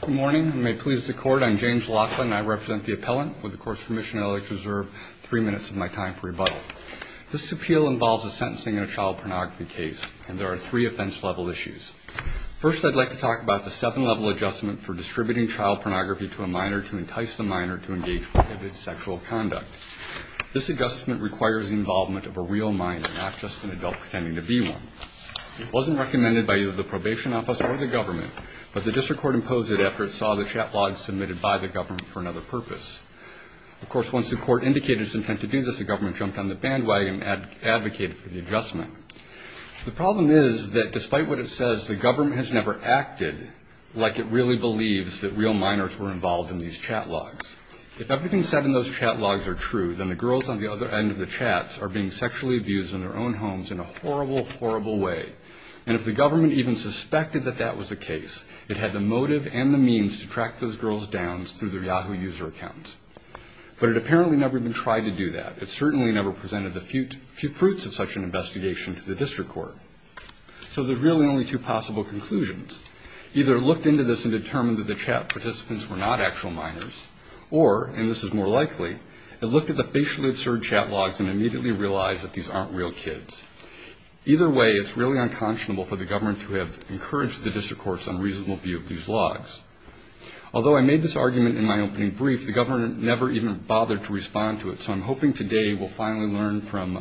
Good morning, and may it please the Court, I'm James Loffa, and I represent the appellant. With the Court's permission, I'd like to reserve three minutes of my time for rebuttal. This appeal involves a sentencing in a child pornography case, and there are three offense-level issues. First, I'd like to talk about the seven-level adjustment for distributing child pornography to a minor to entice the minor to engage prohibited sexual conduct. This adjustment requires the involvement of a real minor, not just an adult pretending to be one. It wasn't recommended by either the probation office or the government, but the district court imposed it after it saw the chat logs submitted by the government for another purpose. Of course, once the court indicated its intent to do this, the government jumped on the bandwagon and advocated for the adjustment. The problem is that despite what it says, the government has never acted like it really believes that real minors were involved in these chat logs. If everything said in those chat logs are true, then the girls on the other end of the chats are being sexually abused in their own homes in a horrible, horrible way. And if the government even suspected that that was the case, it had the motive and the means to track those girls down through their Yahoo user accounts. But it apparently never even tried to do that. It certainly never presented the fruits of such an investigation to the district court. So there's really only two possible conclusions. Either it looked into this and determined that the chat participants were not actual minors, or, and this is more likely, it looked at the facially absurd chat logs and immediately realized that these aren't real kids. Either way, it's really unconscionable for the government to have encouraged the district court's unreasonable view of these logs. Although I made this argument in my opening brief, the government never even bothered to respond to it, so I'm hoping today we'll finally learn from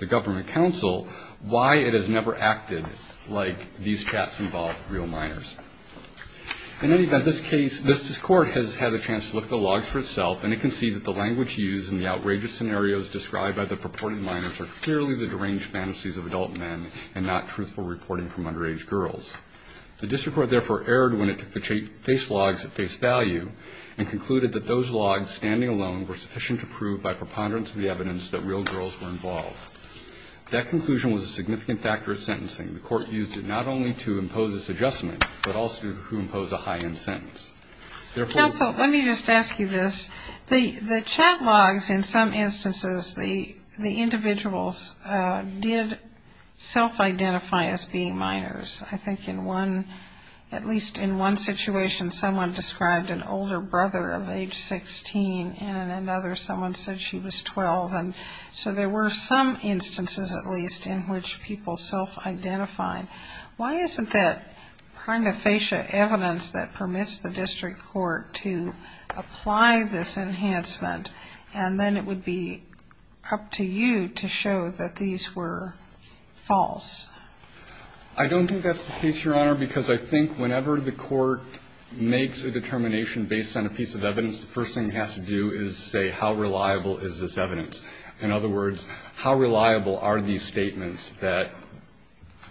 the government counsel why it has never acted like these chats involved real minors. In any event, this case, this court has had a chance to look at the logs for itself, and it can see that the language used and the outrageous scenarios described by the purported minors are clearly the deranged fantasies of adult men and not truthful reporting from underage girls. The district court, therefore, erred when it took the face logs at face value and concluded that those logs, standing alone, were sufficient to prove by preponderance of the evidence that real girls were involved. That conclusion was a significant factor of sentencing. The court used it not only to impose this adjustment, but also to impose a high-end sentence. Counsel, let me just ask you this. The chat logs, in some instances, the individuals did self-identify as being minors. I think in one, at least in one situation, someone described an older brother of age 16, and in another someone said she was 12. And so there were some instances, at least, in which people self-identified. Why isn't that prima facie evidence that permits the district court to apply this enhancement, and then it would be up to you to show that these were false? I don't think that's the case, Your Honor, because I think whenever the court makes a determination based on a piece of evidence, the first thing it has to do is say how reliable is this evidence. In other words, how reliable are these statements that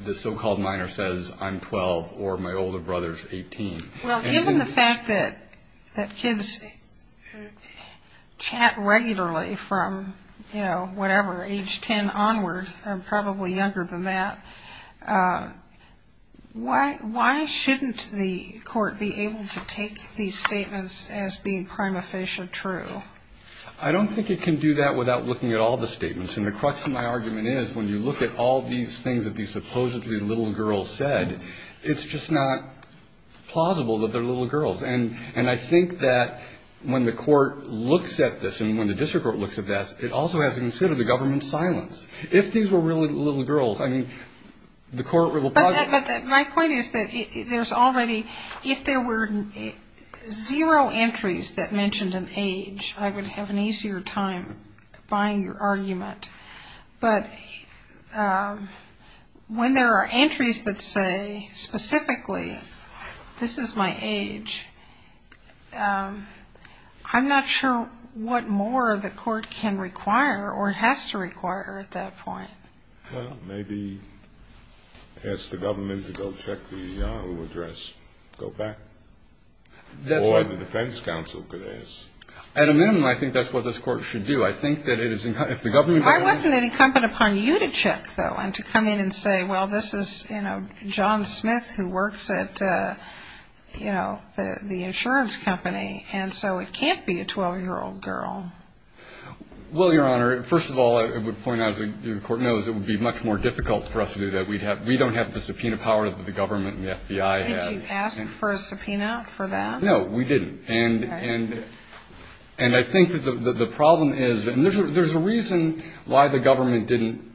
the so-called minor says I'm 12 or my older brother's 18? Well, given the fact that kids chat regularly from, you know, whatever, age 10 onward, probably younger than that, why shouldn't the court be able to take these statements as being prima facie true? I don't think it can do that without looking at all the statements. And the crux of my argument is when you look at all these things that these supposedly little girls said, it's just not plausible that they're little girls. And I think that when the court looks at this and when the district court looks at that, it also has to consider the government's silence. If these were really little girls, I mean, the court will probably be able to do that. But my point is that there's already, if there were zero entries that mentioned an age, I would have an easier time buying your argument. But when there are entries that say specifically this is my age, I'm not sure what more the court can require or has to require at that point. Well, maybe ask the government to go check the address. Go back. Or the defense counsel could ask. At a minimum, I think that's what this court should do. I think that it is incumbent upon you to check, though, and to come in and say, well, this is, you know, John Smith who works at, you know, the insurance company. And so it can't be a 12-year-old girl. Well, Your Honor, first of all, I would point out, as the court knows, it would be much more difficult for us to do that. We don't have the subpoena power that the government and the FBI have. Did you ask for a subpoena for that? No, we didn't. And I think that the problem is, and there's a reason why the government didn't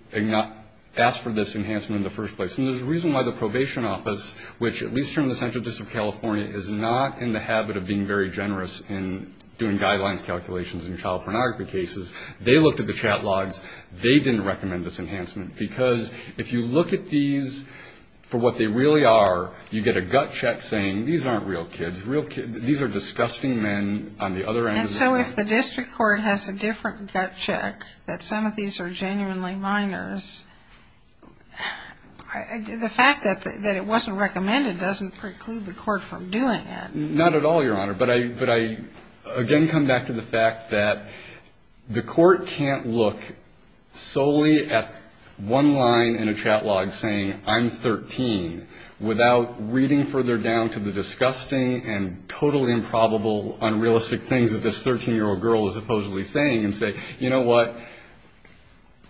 ask for this enhancement in the first place. And there's a reason why the probation office, which at least from the central district of California, is not in the habit of being very generous in doing guidelines calculations in child pornography cases. They looked at the chat logs. They didn't recommend this enhancement. Because if you look at these for what they really are, you get a gut check saying, these aren't real kids. These are disgusting men on the other end of the spectrum. And so if the district court has a different gut check that some of these are genuinely minors, the fact that it wasn't recommended doesn't preclude the court from doing it. Not at all, Your Honor. But I again come back to the fact that the court can't look solely at one line in a chat log saying, I'm 13, without reading further down to the disgusting and totally improbable, unrealistic things that this 13-year-old girl is supposedly saying and say, you know what,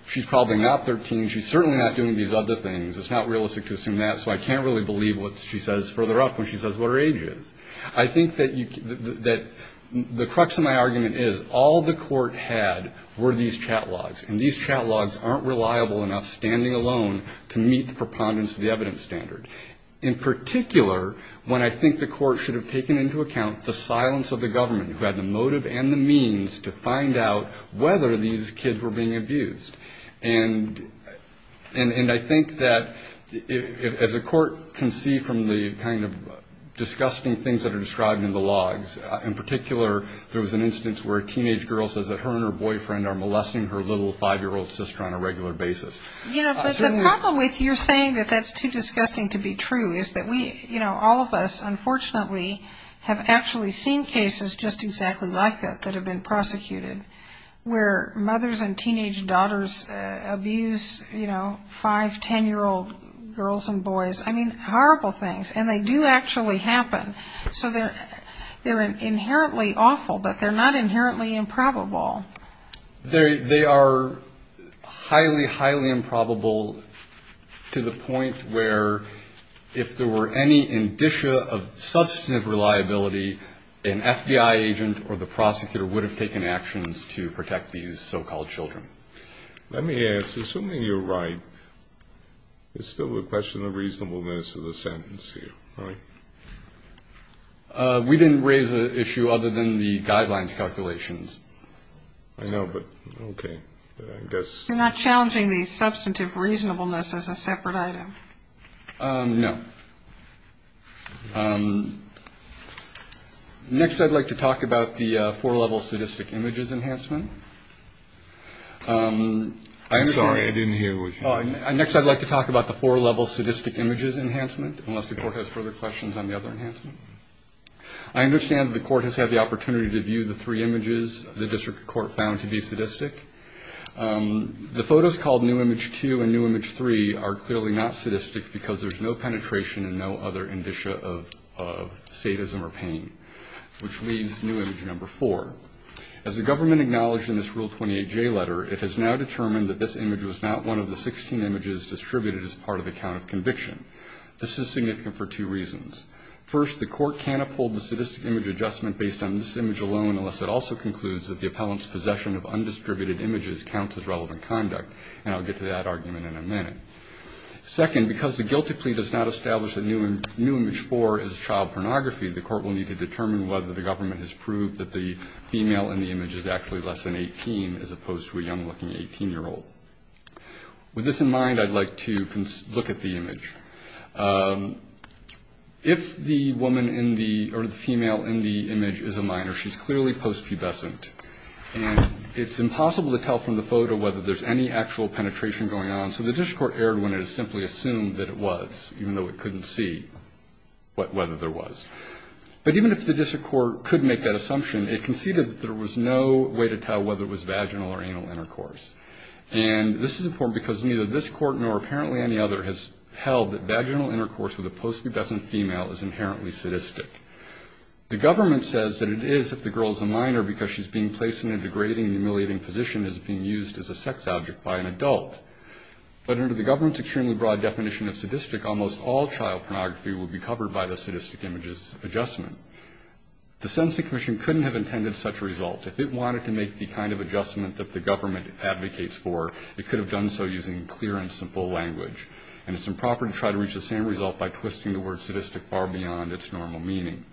she's probably not 13. She's certainly not doing these other things. It's not realistic to assume that. So I can't really believe what she says further up when she says what her age is. I think that the crux of my argument is all the court had were these chat logs. And these chat logs aren't reliable enough standing alone to meet the preponderance of the evidence standard. In particular, when I think the court should have taken into account the silence of the government, who had the motive and the means to find out whether these kids were being abused. And I think that as a court can see from the kind of disgusting things that are described in the logs, in particular there was an instance where a teenage girl says that her and her boyfriend are molesting her little five-year-old sister on a regular basis. You know, but the problem with your saying that that's too disgusting to be true is that we, you know, all of us unfortunately have actually seen cases just exactly like that that have been prosecuted, where mothers and teenage daughters abuse, you know, five, ten-year-old girls and boys. I mean, horrible things. And they do actually happen. So they're inherently awful, but they're not inherently improbable. They are highly, highly improbable to the point where if there were any indicia of substantive reliability, an FBI agent or the prosecutor would have taken actions to protect these so-called children. Let me ask, assuming you're right, it's still a question of reasonableness of the sentence here, right? We didn't raise an issue other than the guidelines calculations. I know, but okay. I guess. You're not challenging the substantive reasonableness as a separate item? No. Next I'd like to talk about the four-level sadistic images enhancement. I'm sorry. I didn't hear what you said. Next I'd like to talk about the four-level sadistic images enhancement, unless the court has further questions on the other enhancement. I understand the court has had the opportunity to view the three images the district court found to be sadistic. The photos called new image two and new image three are clearly not sadistic because there's no penetration and no other indicia of sadism or pain, which leaves new image number four. As the government acknowledged in this Rule 28J letter, it has now determined that this image was not one of the 16 images distributed as part of the count of conviction. This is significant for two reasons. First, the court can't uphold the sadistic image adjustment based on this image alone unless it also concludes that the appellant's possession of undistributed images counts as relevant conduct, and I'll get to that argument in a minute. Second, because the guilty plea does not establish that new image four is child pornography, the court will need to determine whether the government has proved that the female in the image is actually less than 18 as opposed to a young-looking 18-year-old. With this in mind, I'd like to look at the image. If the woman in the or the female in the image is a minor, she's clearly post-pubescent, and it's impossible to tell from the photo whether there's any actual penetration going on, so the district court erred when it simply assumed that it was, even though it couldn't see whether there was. But even if the district court could make that assumption, it conceded that there was no way to tell whether it was vaginal or anal intercourse. And this is important because neither this court nor apparently any other has held that vaginal intercourse with a post-pubescent female is inherently sadistic. The government says that it is if the girl is a minor because she's being placed in a degrading and humiliating position as being used as a sex object by an adult. But under the government's extremely broad definition of sadistic, almost all child pornography would be covered by the sadistic image's adjustment. The Sentencing Commission couldn't have intended such a result if it wanted to make the kind of adjustment that the government advocates for. It could have done so using clear and simple language. And it's improper to try to reach the same result by twisting the word sadistic far beyond its normal meaning.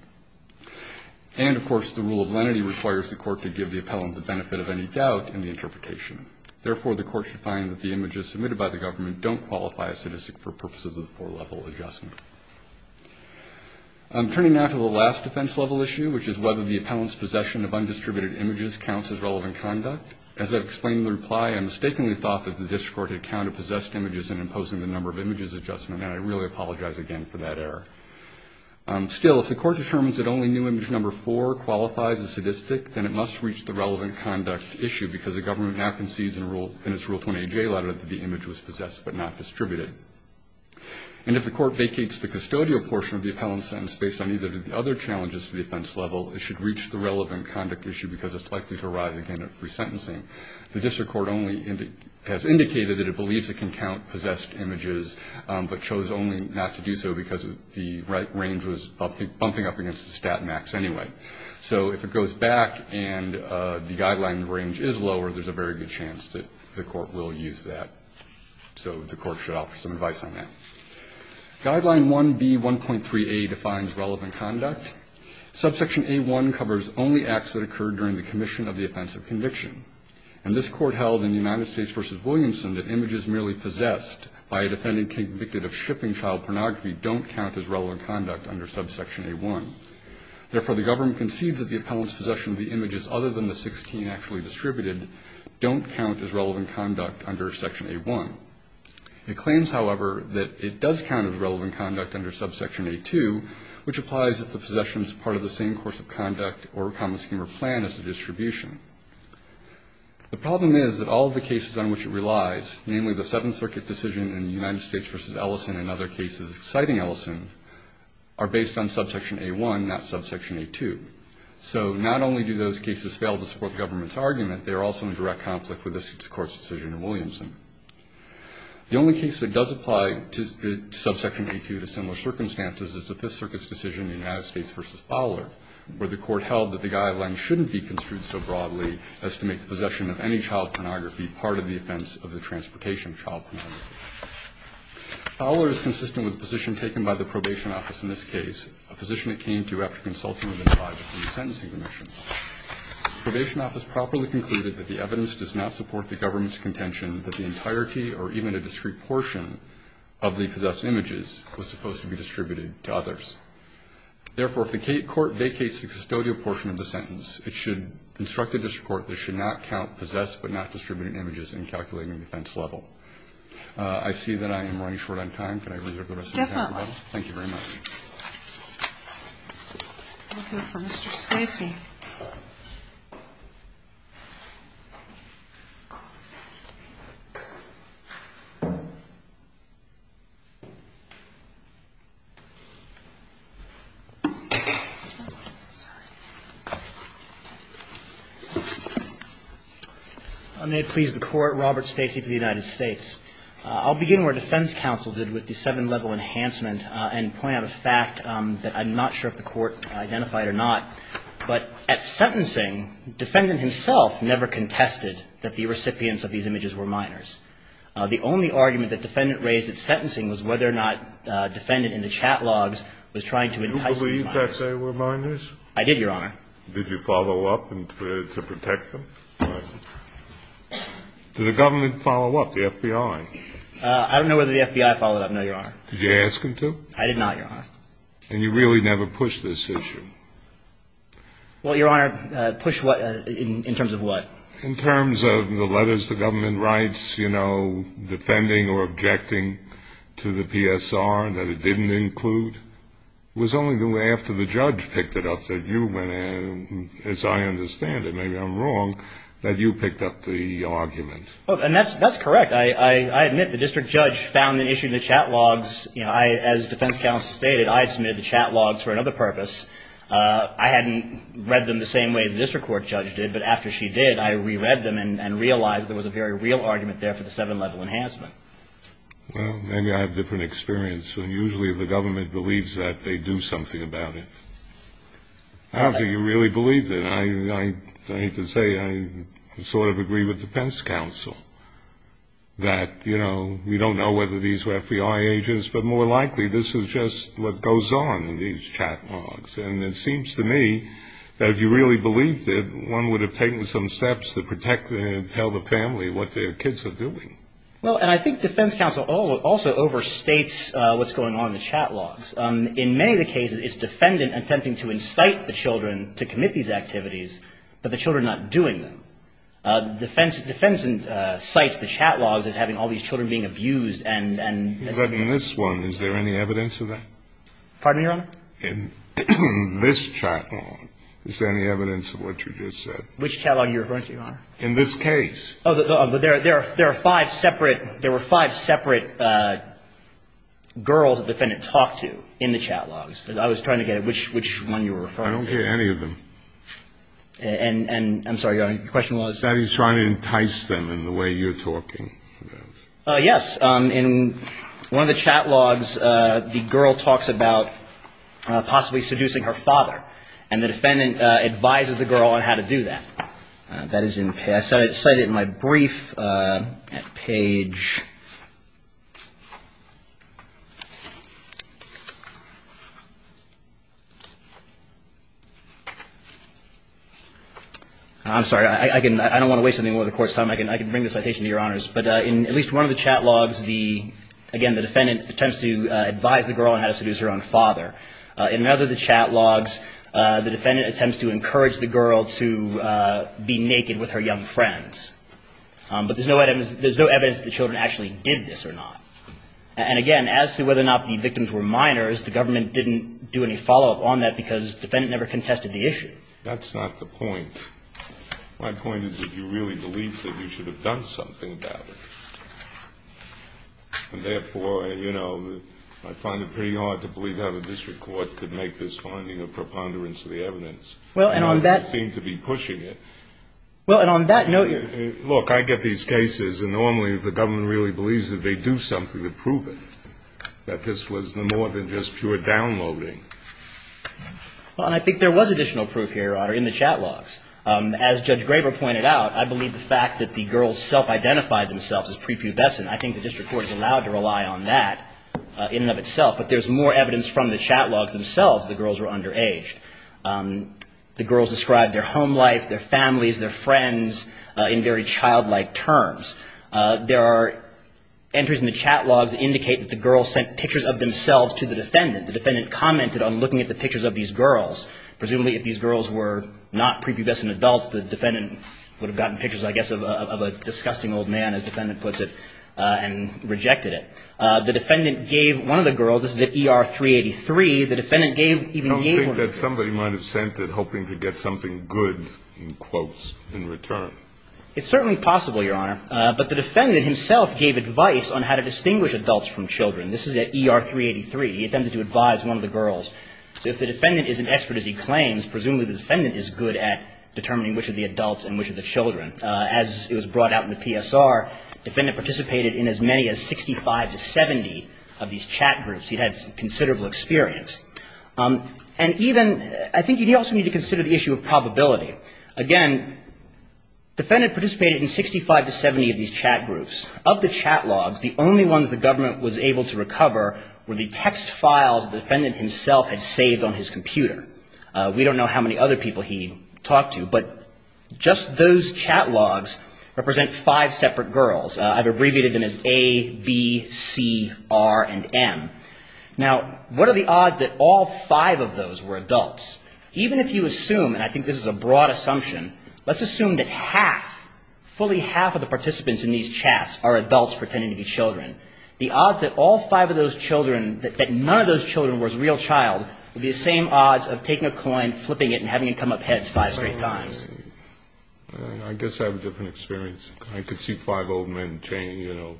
And, of course, the rule of lenity requires the court to give the appellant the benefit of any doubt in the interpretation. Therefore, the court should find that the images submitted by the government don't qualify as sadistic for purposes of the four-level adjustment. Turning now to the last defense-level issue, which is whether the appellant's possession of undistributed images counts as relevant conduct. As I've explained in the reply, I mistakenly thought that the district court had counted possessed images in imposing the number of images adjustment, and I really apologize again for that error. Still, if the court determines that only new image number four qualifies as sadistic, then it must reach the relevant conduct issue because the government now concedes in its Rule 28J letter that the image was possessed but not distributed. And if the court vacates the custodial portion of the appellant's sentence based on either of the other challenges to the offense level, it should reach the relevant conduct issue because it's likely to arise again at resentencing. The district court only has indicated that it believes it can count possessed images but chose only not to do so because the range was bumping up against the stat max anyway. So if it goes back and the guideline range is lower, there's a very good chance that the court will use that. So the court should offer some advice on that. Guideline 1B1.3a defines relevant conduct. Subsection A1 covers only acts that occurred during the commission of the offense of conviction. And this court held in the United States v. Williamson that images merely possessed by a defendant convicted of shipping child pornography don't count as relevant conduct under subsection A1. Therefore, the government concedes that the appellant's possession of the images other than the 16 actually distributed don't count as relevant conduct under section A1. It claims, however, that it does count as relevant conduct under subsection A2, which applies if the possession is part of the same course of conduct or a common scheme or plan as a distribution. The problem is that all of the cases on which it relies, namely the Seventh Circuit decision in the United States v. Ellison and other cases citing Ellison, are based on subsection A1, not subsection A2. So not only do those cases fail to support the government's argument, they are also in direct conflict with this court's decision in Williamson. The only case that does apply to subsection A2 to similar circumstances is the Fifth Circuit's decision in the United States v. Fowler where the court held that the guidelines shouldn't be construed so broadly as to make the possession of any child pornography part of the offense of the transportation of child pornography. Fowler is consistent with the position taken by the probation office in this case, a position it came to after consulting with the tribe for the sentencing commission. The probation office properly concluded that the evidence does not support the government's contention that the entirety or even a discrete portion of the possessed images was supposed to be distributed to others. Therefore, if the court vacates the custodial portion of the sentence, it should instruct the district court that it should not count possessed but not distributed images in calculating the offense level. I see that I am running short on time. Can I reserve the rest of the time? Thank you very much. I'll go for Mr. Stacey. I'm going to please the Court, Robert Stacey for the United States. I'll begin where defense counsel did with the seven-level enhancement and point out a fact that I'm not sure if the Court identified or not. But at sentencing, defendant himself never contested that the recipients of these images were minors. The only argument that defendant raised at sentencing was whether or not defendant in the chat logs was trying to entice the minors. Do you believe that they were minors? I did, Your Honor. Did you follow up to protect them? Did the government follow up, the FBI? I don't know whether the FBI followed up, no, Your Honor. Did you ask them to? I did not, Your Honor. And you really never pushed this issue? Well, Your Honor, push what in terms of what? In terms of the letters the government writes, you know, defending or objecting to the PSR that it didn't include. It was only after the judge picked it up that you went in, as I understand it, maybe I'm wrong, that you picked up the argument. And that's correct. I admit the district judge found the issue in the chat logs. As defense counsel stated, I submitted the chat logs for another purpose. I hadn't read them the same way the district court judge did, but after she did, I reread them and realized there was a very real argument there for the seven-level enhancement. Well, maybe I have different experience. Usually the government believes that they do something about it. I don't think it really believes it. I hate to say, I sort of agree with defense counsel. That, you know, we don't know whether these were FBI agents, but more likely this is just what goes on in these chat logs. And it seems to me that if you really believed it, one would have taken some steps to protect and tell the family what their kids are doing. Well, and I think defense counsel also overstates what's going on in the chat logs. In many of the cases, it's defendant attempting to incite the children to commit these activities, but the children are not doing them. Defense cites the chat logs as having all these children being abused. But in this one, is there any evidence of that? Pardon me, Your Honor? In this chat log, is there any evidence of what you just said? Which chat log are you referring to, Your Honor? In this case. Oh, but there are five separate — there were five separate girls the defendant talked to in the chat logs. I was trying to get at which one you were referring to. I don't hear any of them. And, I'm sorry, Your Honor, your question was? That he's trying to entice them in the way you're talking. Yes. In one of the chat logs, the girl talks about possibly seducing her father, and the defendant advises the girl on how to do that. That is in — I cited it in my brief at Page. I'm sorry, I can — I don't want to waste any more of the Court's time. I can bring the citation to Your Honors. But in at least one of the chat logs, the — again, the defendant attempts to advise the girl on how to seduce her own father. In another of the chat logs, the defendant attempts to encourage the girl to be naked with her young friends. But there's no evidence — there's no evidence that the children actually did that. And, again, as to whether or not the victims were minors, the government didn't do any follow-up on that because the defendant never contested the issue. That's not the point. My point is that you really believe that you should have done something about it. And, therefore, you know, I find it pretty hard to believe how the district court could make this finding a preponderance of the evidence. Well, and on that — You don't seem to be pushing it. Well, and on that note — Look, I get these cases, and normally the government really believes that they do something to prove it, that this was more than just pure downloading. Well, and I think there was additional proof here, Your Honor, in the chat logs. As Judge Graber pointed out, I believe the fact that the girls self-identified themselves as prepubescent, I think the district court is allowed to rely on that in and of itself. But there's more evidence from the chat logs themselves that the girls were underage. The girls described their home life, their families, their friends in very childlike terms. There are entries in the chat logs that indicate that the girls sent pictures of themselves to the defendant. The defendant commented on looking at the pictures of these girls. Presumably, if these girls were not prepubescent adults, the defendant would have gotten pictures, I guess, of a disgusting old man, as the defendant puts it, and rejected it. The defendant gave one of the girls — this is at ER 383. I don't think that somebody might have sent it hoping to get something good, in quotes, in return. It's certainly possible, Your Honor. But the defendant himself gave advice on how to distinguish adults from children. This is at ER 383. He attempted to advise one of the girls. If the defendant is an expert, as he claims, presumably the defendant is good at determining which are the adults and which are the children. As it was brought out in the PSR, the defendant participated in as many as 65 to 70 of these chat groups. He had considerable experience. And even — I think you also need to consider the issue of probability. Again, the defendant participated in 65 to 70 of these chat groups. Of the chat logs, the only ones the government was able to recover were the text files the defendant himself had saved on his computer. We don't know how many other people he talked to, but just those chat logs represent five separate girls. I've abbreviated them as A, B, C, R, and M. Now, what are the odds that all five of those were adults? Even if you assume, and I think this is a broad assumption, let's assume that half, fully half of the participants in these chats are adults pretending to be children. The odds that all five of those children, that none of those children was a real child, would be the same odds of taking a coin, flipping it, and having it come up heads five straight times. I guess I have a different experience. I could see five old men chained, you know,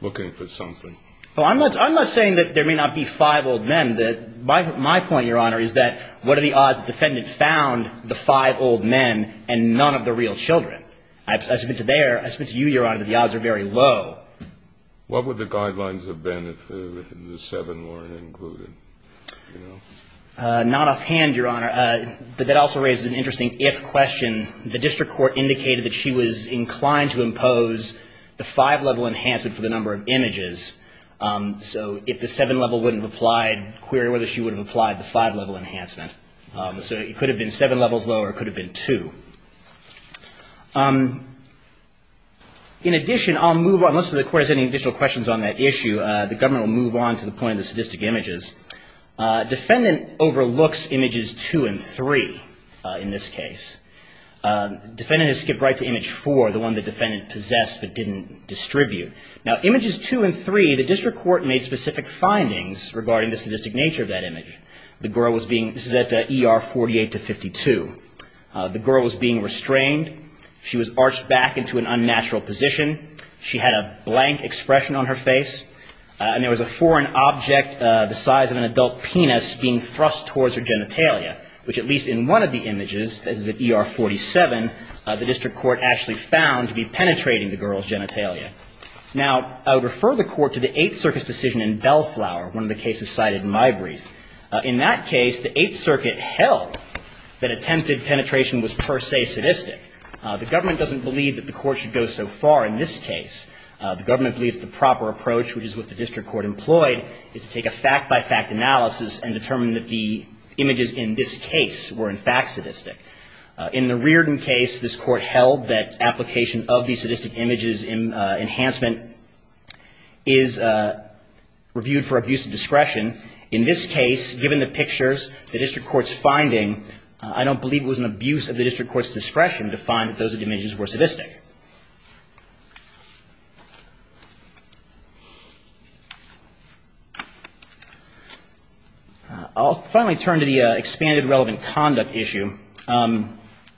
looking for something. Well, I'm not saying that there may not be five old men. My point, Your Honor, is that what are the odds the defendant found the five old men and none of the real children? I submit to you, Your Honor, that the odds are very low. What would the guidelines have been if the seven weren't included? Not offhand, Your Honor, but that also raises an interesting if question. The district court indicated that she was inclined to impose the five-level enhancement for the number of images. So if the seven-level wouldn't have applied, query whether she would have applied the five-level enhancement. So it could have been seven levels lower. It could have been two. In addition, I'll move on. Unless the court has any additional questions on that issue, the government will move on to the point of the sadistic images. Defendant overlooks images two and three in this case. Defendant has skipped right to image four, the one the defendant possessed but didn't distribute. Now, images two and three, the district court made specific findings regarding the sadistic nature of that image. The girl was being – this is at ER 48-52. The girl was being restrained. She was arched back into an unnatural position. She had a blank expression on her face. And there was a foreign object the size of an adult penis being thrust towards her genitalia, which at least in one of the images, this is at ER 47, the district court actually found to be penetrating the girl's genitalia. Now, I would refer the court to the Eighth Circuit's decision in Bellflower, one of the cases cited in my brief. In that case, the Eighth Circuit held that attempted penetration was per se sadistic. The government doesn't believe that the court should go so far in this case. The government believes the proper approach, which is what the district court employed, is to take a fact-by-fact analysis and determine that the images in this case were in fact sadistic. In the Reardon case, this court held that application of the sadistic images enhancement is reviewed for abuse of discretion. In this case, given the pictures, the district court's finding, I don't believe it was an abuse of the district court's discretion to find that those images were sadistic. I'll finally turn to the expanded relevant conduct issue.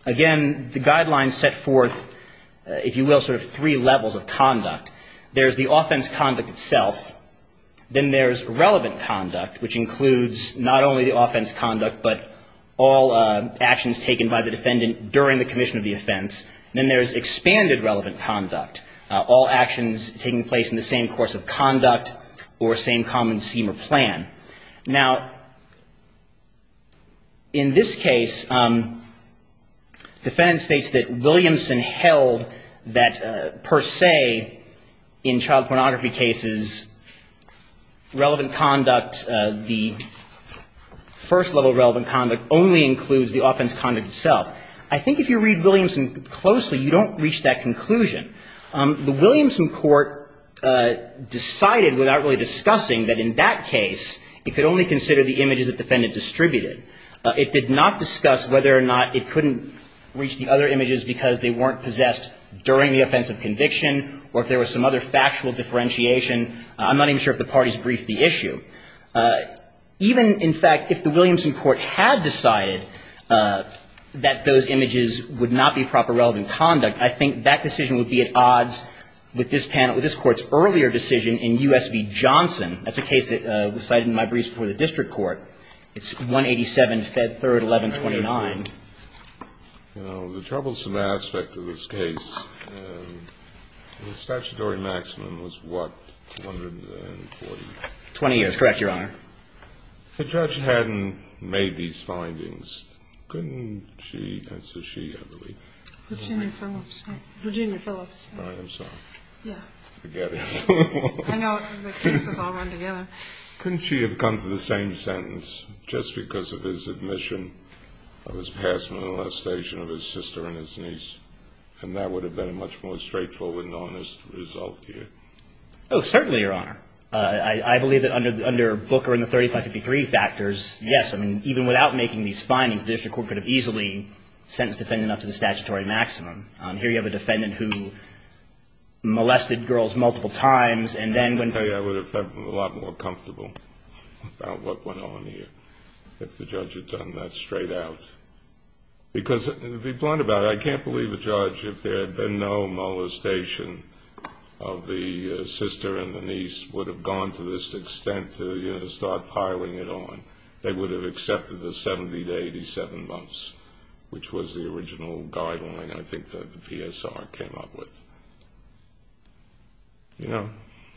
Again, the guidelines set forth, if you will, sort of three levels of conduct. There's the offense conduct itself. Then there's relevant conduct, which includes not only the offense conduct, but all actions taken by the defendant during the commission of the offense. Then there's expanded relevant conduct, all actions taking place in the same course of conduct or same common scheme or plan. Now, in this case, defendant states that Williamson held that per se in child pornography cases, relevant conduct, the first level of relevant conduct only includes the offense conduct itself. I think if you read Williamson closely, you don't reach that conclusion. The Williamson court decided without really discussing that in that case, it could only consider the images the defendant distributed. It did not discuss whether or not it couldn't reach the other images because they weren't possessed during the offensive conviction or if there was some other factual differentiation. I'm not even sure if the parties briefed the issue. Even, in fact, if the Williamson court had decided that those images would not be proper relevant conduct, I think that decision would be at odds with this panel, with this Court's earlier decision in U.S. v. Johnson. That's a case that was cited in my briefs before the district court. It's 187, Fed 3rd, 1129. The troublesome aspect of this case, the statutory maximum was what, 240? 20 years. Correct, Your Honor. The judge hadn't made these findings. Couldn't she? Virginia Phillips. I am sorry. Yeah. Forget it. I know the cases all run together. Couldn't she have come to the same sentence just because of his admission of his past molestation of his sister and his niece? And that would have been a much more straightforward and honest result here. Oh, certainly, Your Honor. I believe that under Booker and the 3553 factors, yes. I mean, even without making these findings, the district court could have easily sentenced the defendant up to the statutory maximum. Here you have a defendant who molested girls multiple times, and then when I tell you, I would have felt a lot more comfortable about what went on here if the judge had done that straight out. Because to be blunt about it, I can't believe a judge, if there had been no molestation of the sister and the niece would have gone to this extent to, you know, start piling it on. They would have accepted the 70 to 87 months, which was the original guideline I think that the PSR came up with. You know?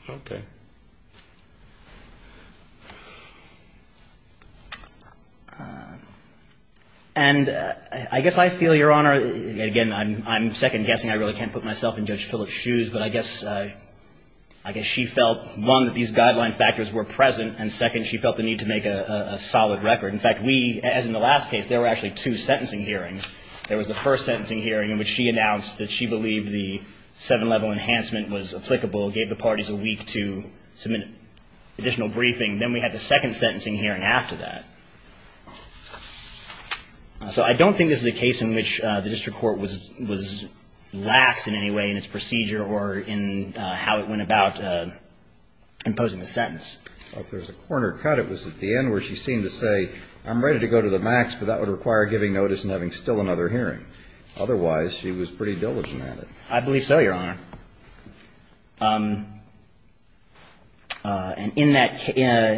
Okay. And I guess I feel, Your Honor, again, I'm second-guessing. I really can't put myself in Judge Phillips' shoes, but I guess she felt, one, that these guideline factors were present, and second, she felt the need to make a solid record. In fact, we, as in the last case, there were actually two sentencing hearings. There was the first sentencing hearing in which she announced that she believed the seven-level enhancement was applicable, gave the parties a week to submit additional briefing. Then we had the second sentencing hearing after that. So I don't think this is a case in which the district court was lax in any way in its procedure or in how it went about imposing the sentence. Well, if there's a corner cut, it was at the end where she seemed to say, I'm ready to go to the max, but that would require giving notice and having still another hearing. Otherwise, she was pretty diligent at it. I believe so, Your Honor. And in that case,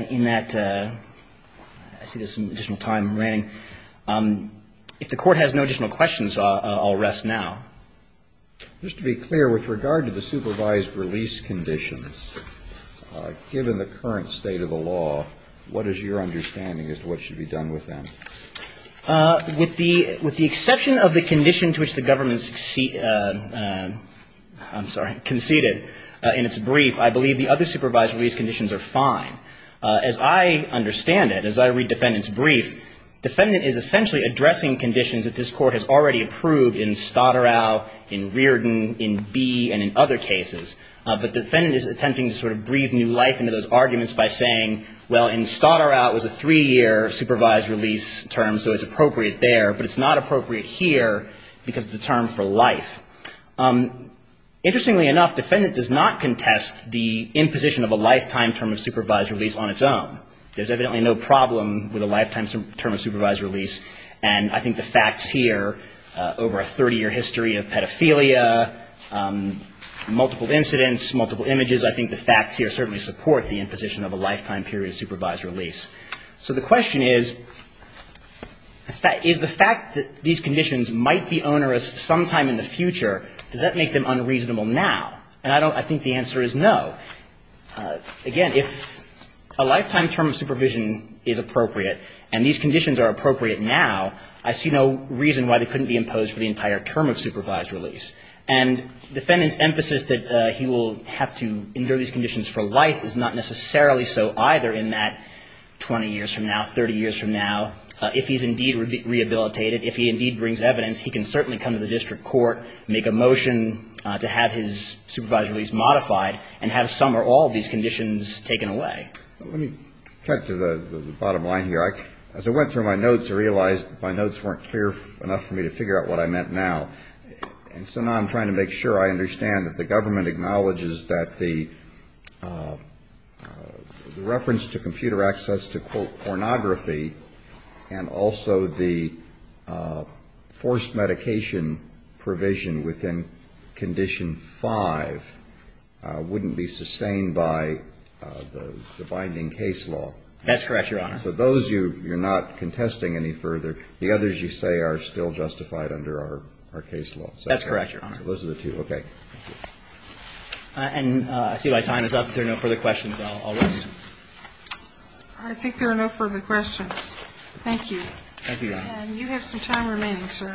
in that, I see there's some additional time remaining. If the Court has no additional questions, I'll rest now. Just to be clear, with regard to the supervised release conditions, given the current state of the law, what is your understanding as to what should be done with them? With the exception of the condition to which the government conceded in its brief, I believe the other supervised release conditions are fine. As I understand it, as I read defendant's brief, defendant is essentially addressing conditions that this Court has already approved in Stotterau, in Reardon, in B, and in other cases. But defendant is attempting to sort of breathe new life into those arguments by saying, well, in Stotterau it was a three-year supervised release term, so it's appropriate there, but it's not appropriate here because of the term for life. Interestingly enough, defendant does not contest the imposition of a lifetime term of supervised release on its own. There's evidently no problem with a lifetime term of supervised release, and I think the facts here over a 30-year history of pedophilia, multiple incidents, multiple images, I think the facts here certainly support the imposition of a lifetime period of supervised release. So the question is, is the fact that these conditions might be onerous sometime in the future, does that make them unreasonable now? And I think the answer is no. Again, if a lifetime term of supervision is appropriate and these conditions are appropriate now, I see no reason why they couldn't be imposed for the entire term of supervised release. And defendant's emphasis that he will have to endure these conditions for life is not necessarily so either in that 20 years from now, 30 years from now. If he's indeed rehabilitated, if he indeed brings evidence, he can certainly come to the district court, make a motion to have his supervised release modified and have some or all of these conditions taken away. Let me cut to the bottom line here. As I went through my notes, I realized my notes weren't clear enough for me to figure out what I meant now. And so now I'm trying to make sure I understand that the government acknowledges that the reference to computer access to, quote, pornography and also the forced medication provision within Condition 5 wouldn't be sustained by the binding case law. That's correct, Your Honor. So those you're not contesting any further. The others you say are still justified under our case law. That's correct, Your Honor. Those are the two. Okay. And I see my time is up. If there are no further questions, I'll wait. I think there are no further questions. Thank you. Thank you, Your Honor. And you have some time remaining, sir.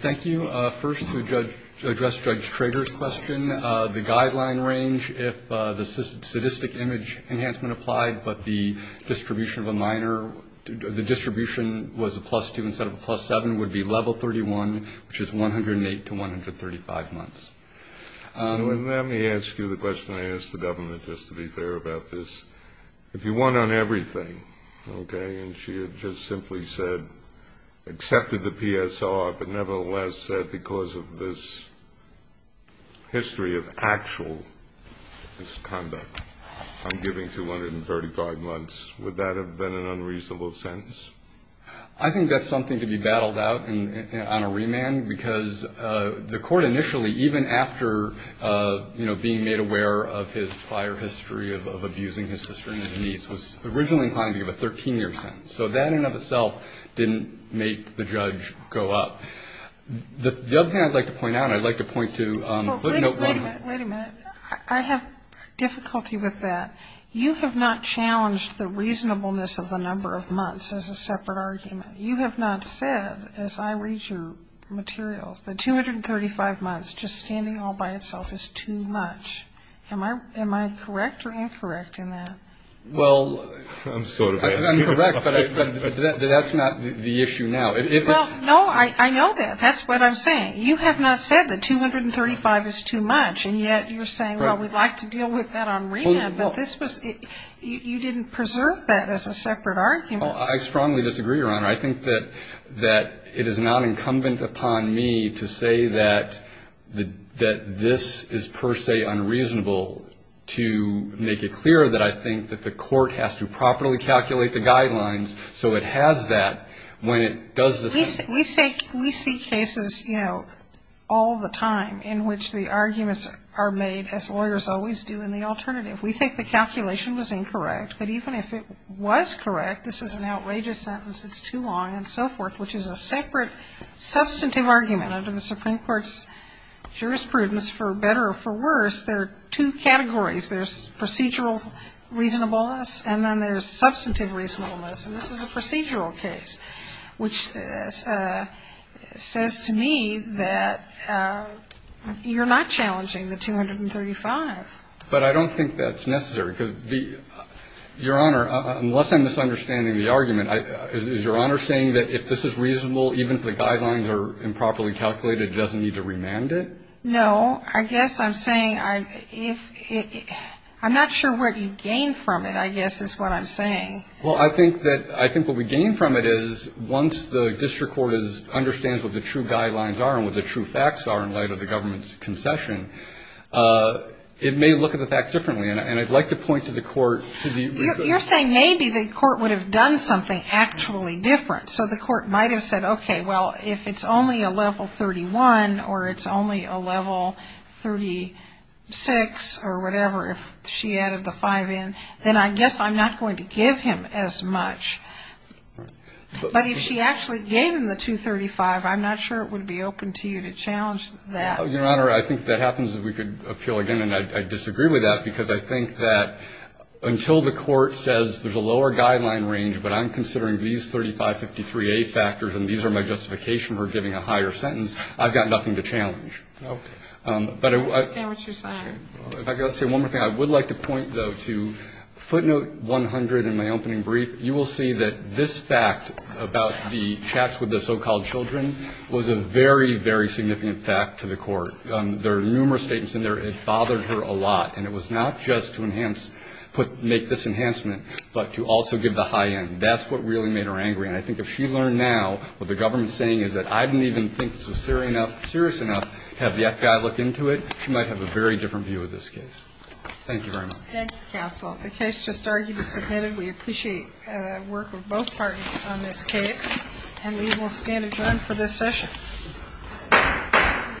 Thank you. First, to address Judge Trager's question, the guideline range, if the sadistic image enhancement applied but the distribution of a minor, the distribution was a plus 2 instead of a plus 7, would be level 31, which is 108 to 135 months. Let me ask you the question I asked the government just to be fair about this. If you want on everything, okay, and she had just simply said, accepted the PSR, but nevertheless said because of this history of actual misconduct, I'm giving 235 months, would that have been an unreasonable sentence? I think that's something to be battled out on a remand, because the court initially, even after, you know, being made aware of his prior history of abusing his sister and niece, was originally inclined to give a 13-year sentence. So that in and of itself didn't make the judge go up. The other thing I'd like to point out, and I'd like to point to footnote 1. Wait a minute, wait a minute. I have difficulty with that. You have not challenged the reasonableness of the number of months as a separate argument. You have not said, as I read your materials, the 235 months just standing all by itself is too much. Am I correct or incorrect in that? Well, I'm sort of asking. I'm correct, but that's not the issue now. No, I know that. That's what I'm saying. You have not said that 235 is too much, and yet you're saying, well, we'd like to deal with that on remand. But this was, you didn't preserve that as a separate argument. Well, I strongly disagree, Your Honor. I think that it is not incumbent upon me to say that this is per se unreasonable to make it clear that I think that the court has to properly calculate the guidelines so it has that when it does the sentence. We see cases, you know, all the time in which the arguments are made, as lawyers always do, in the alternative. We think the calculation was incorrect, but even if it was correct, this is an outrageous sentence, it's too long, and so forth, which is a separate substantive argument. Under the Supreme Court's jurisprudence, for better or for worse, there are two categories. There's procedural reasonableness, and then there's substantive reasonableness. And this is a procedural case, which says to me that you're not challenging the 235. But I don't think that's necessary, because, Your Honor, unless I'm misunderstanding the argument, is Your Honor saying that if this is reasonable, even if the guidelines are improperly calculated, it doesn't need to remand it? No. I guess I'm saying I'm not sure what you gain from it, I guess, is what I'm saying. Well, I think what we gain from it is once the district court understands what the true guidelines are and what the true facts are in light of the government's concession, it may look at the facts differently. And I'd like to point to the court to the reverse. You're saying maybe the court would have done something actually different. So the court might have said, okay, well, if it's only a level 31 or it's only a level 36 or whatever, if she added the 5 in, then I guess I'm not going to give him as much. But if she actually gave him the 235, I'm not sure it would be open to you to challenge that. Your Honor, I think if that happens, we could appeal again. And I disagree with that, because I think that until the court says there's a lower guideline range, but I'm considering these 3553A factors and these are my justification for giving a higher sentence, I've got nothing to challenge. Okay. I understand what you're saying. If I could say one more thing. I would like to point, though, to footnote 100 in my opening brief. You will see that this fact about the chats with the so-called children was a very, very significant fact to the court. There are numerous statements in there. It bothered her a lot. And it was not just to enhance, make this enhancement, but to also give the high end. That's what really made her angry. And I think if she learned now what the government's saying is that I didn't even think this was serious enough, have the FBI look into it, she might have a very different view of this case. Thank you very much. Thank you, counsel. The case just argued is submitted. We appreciate the work of both parties on this case. And we will stand adjourned for this session.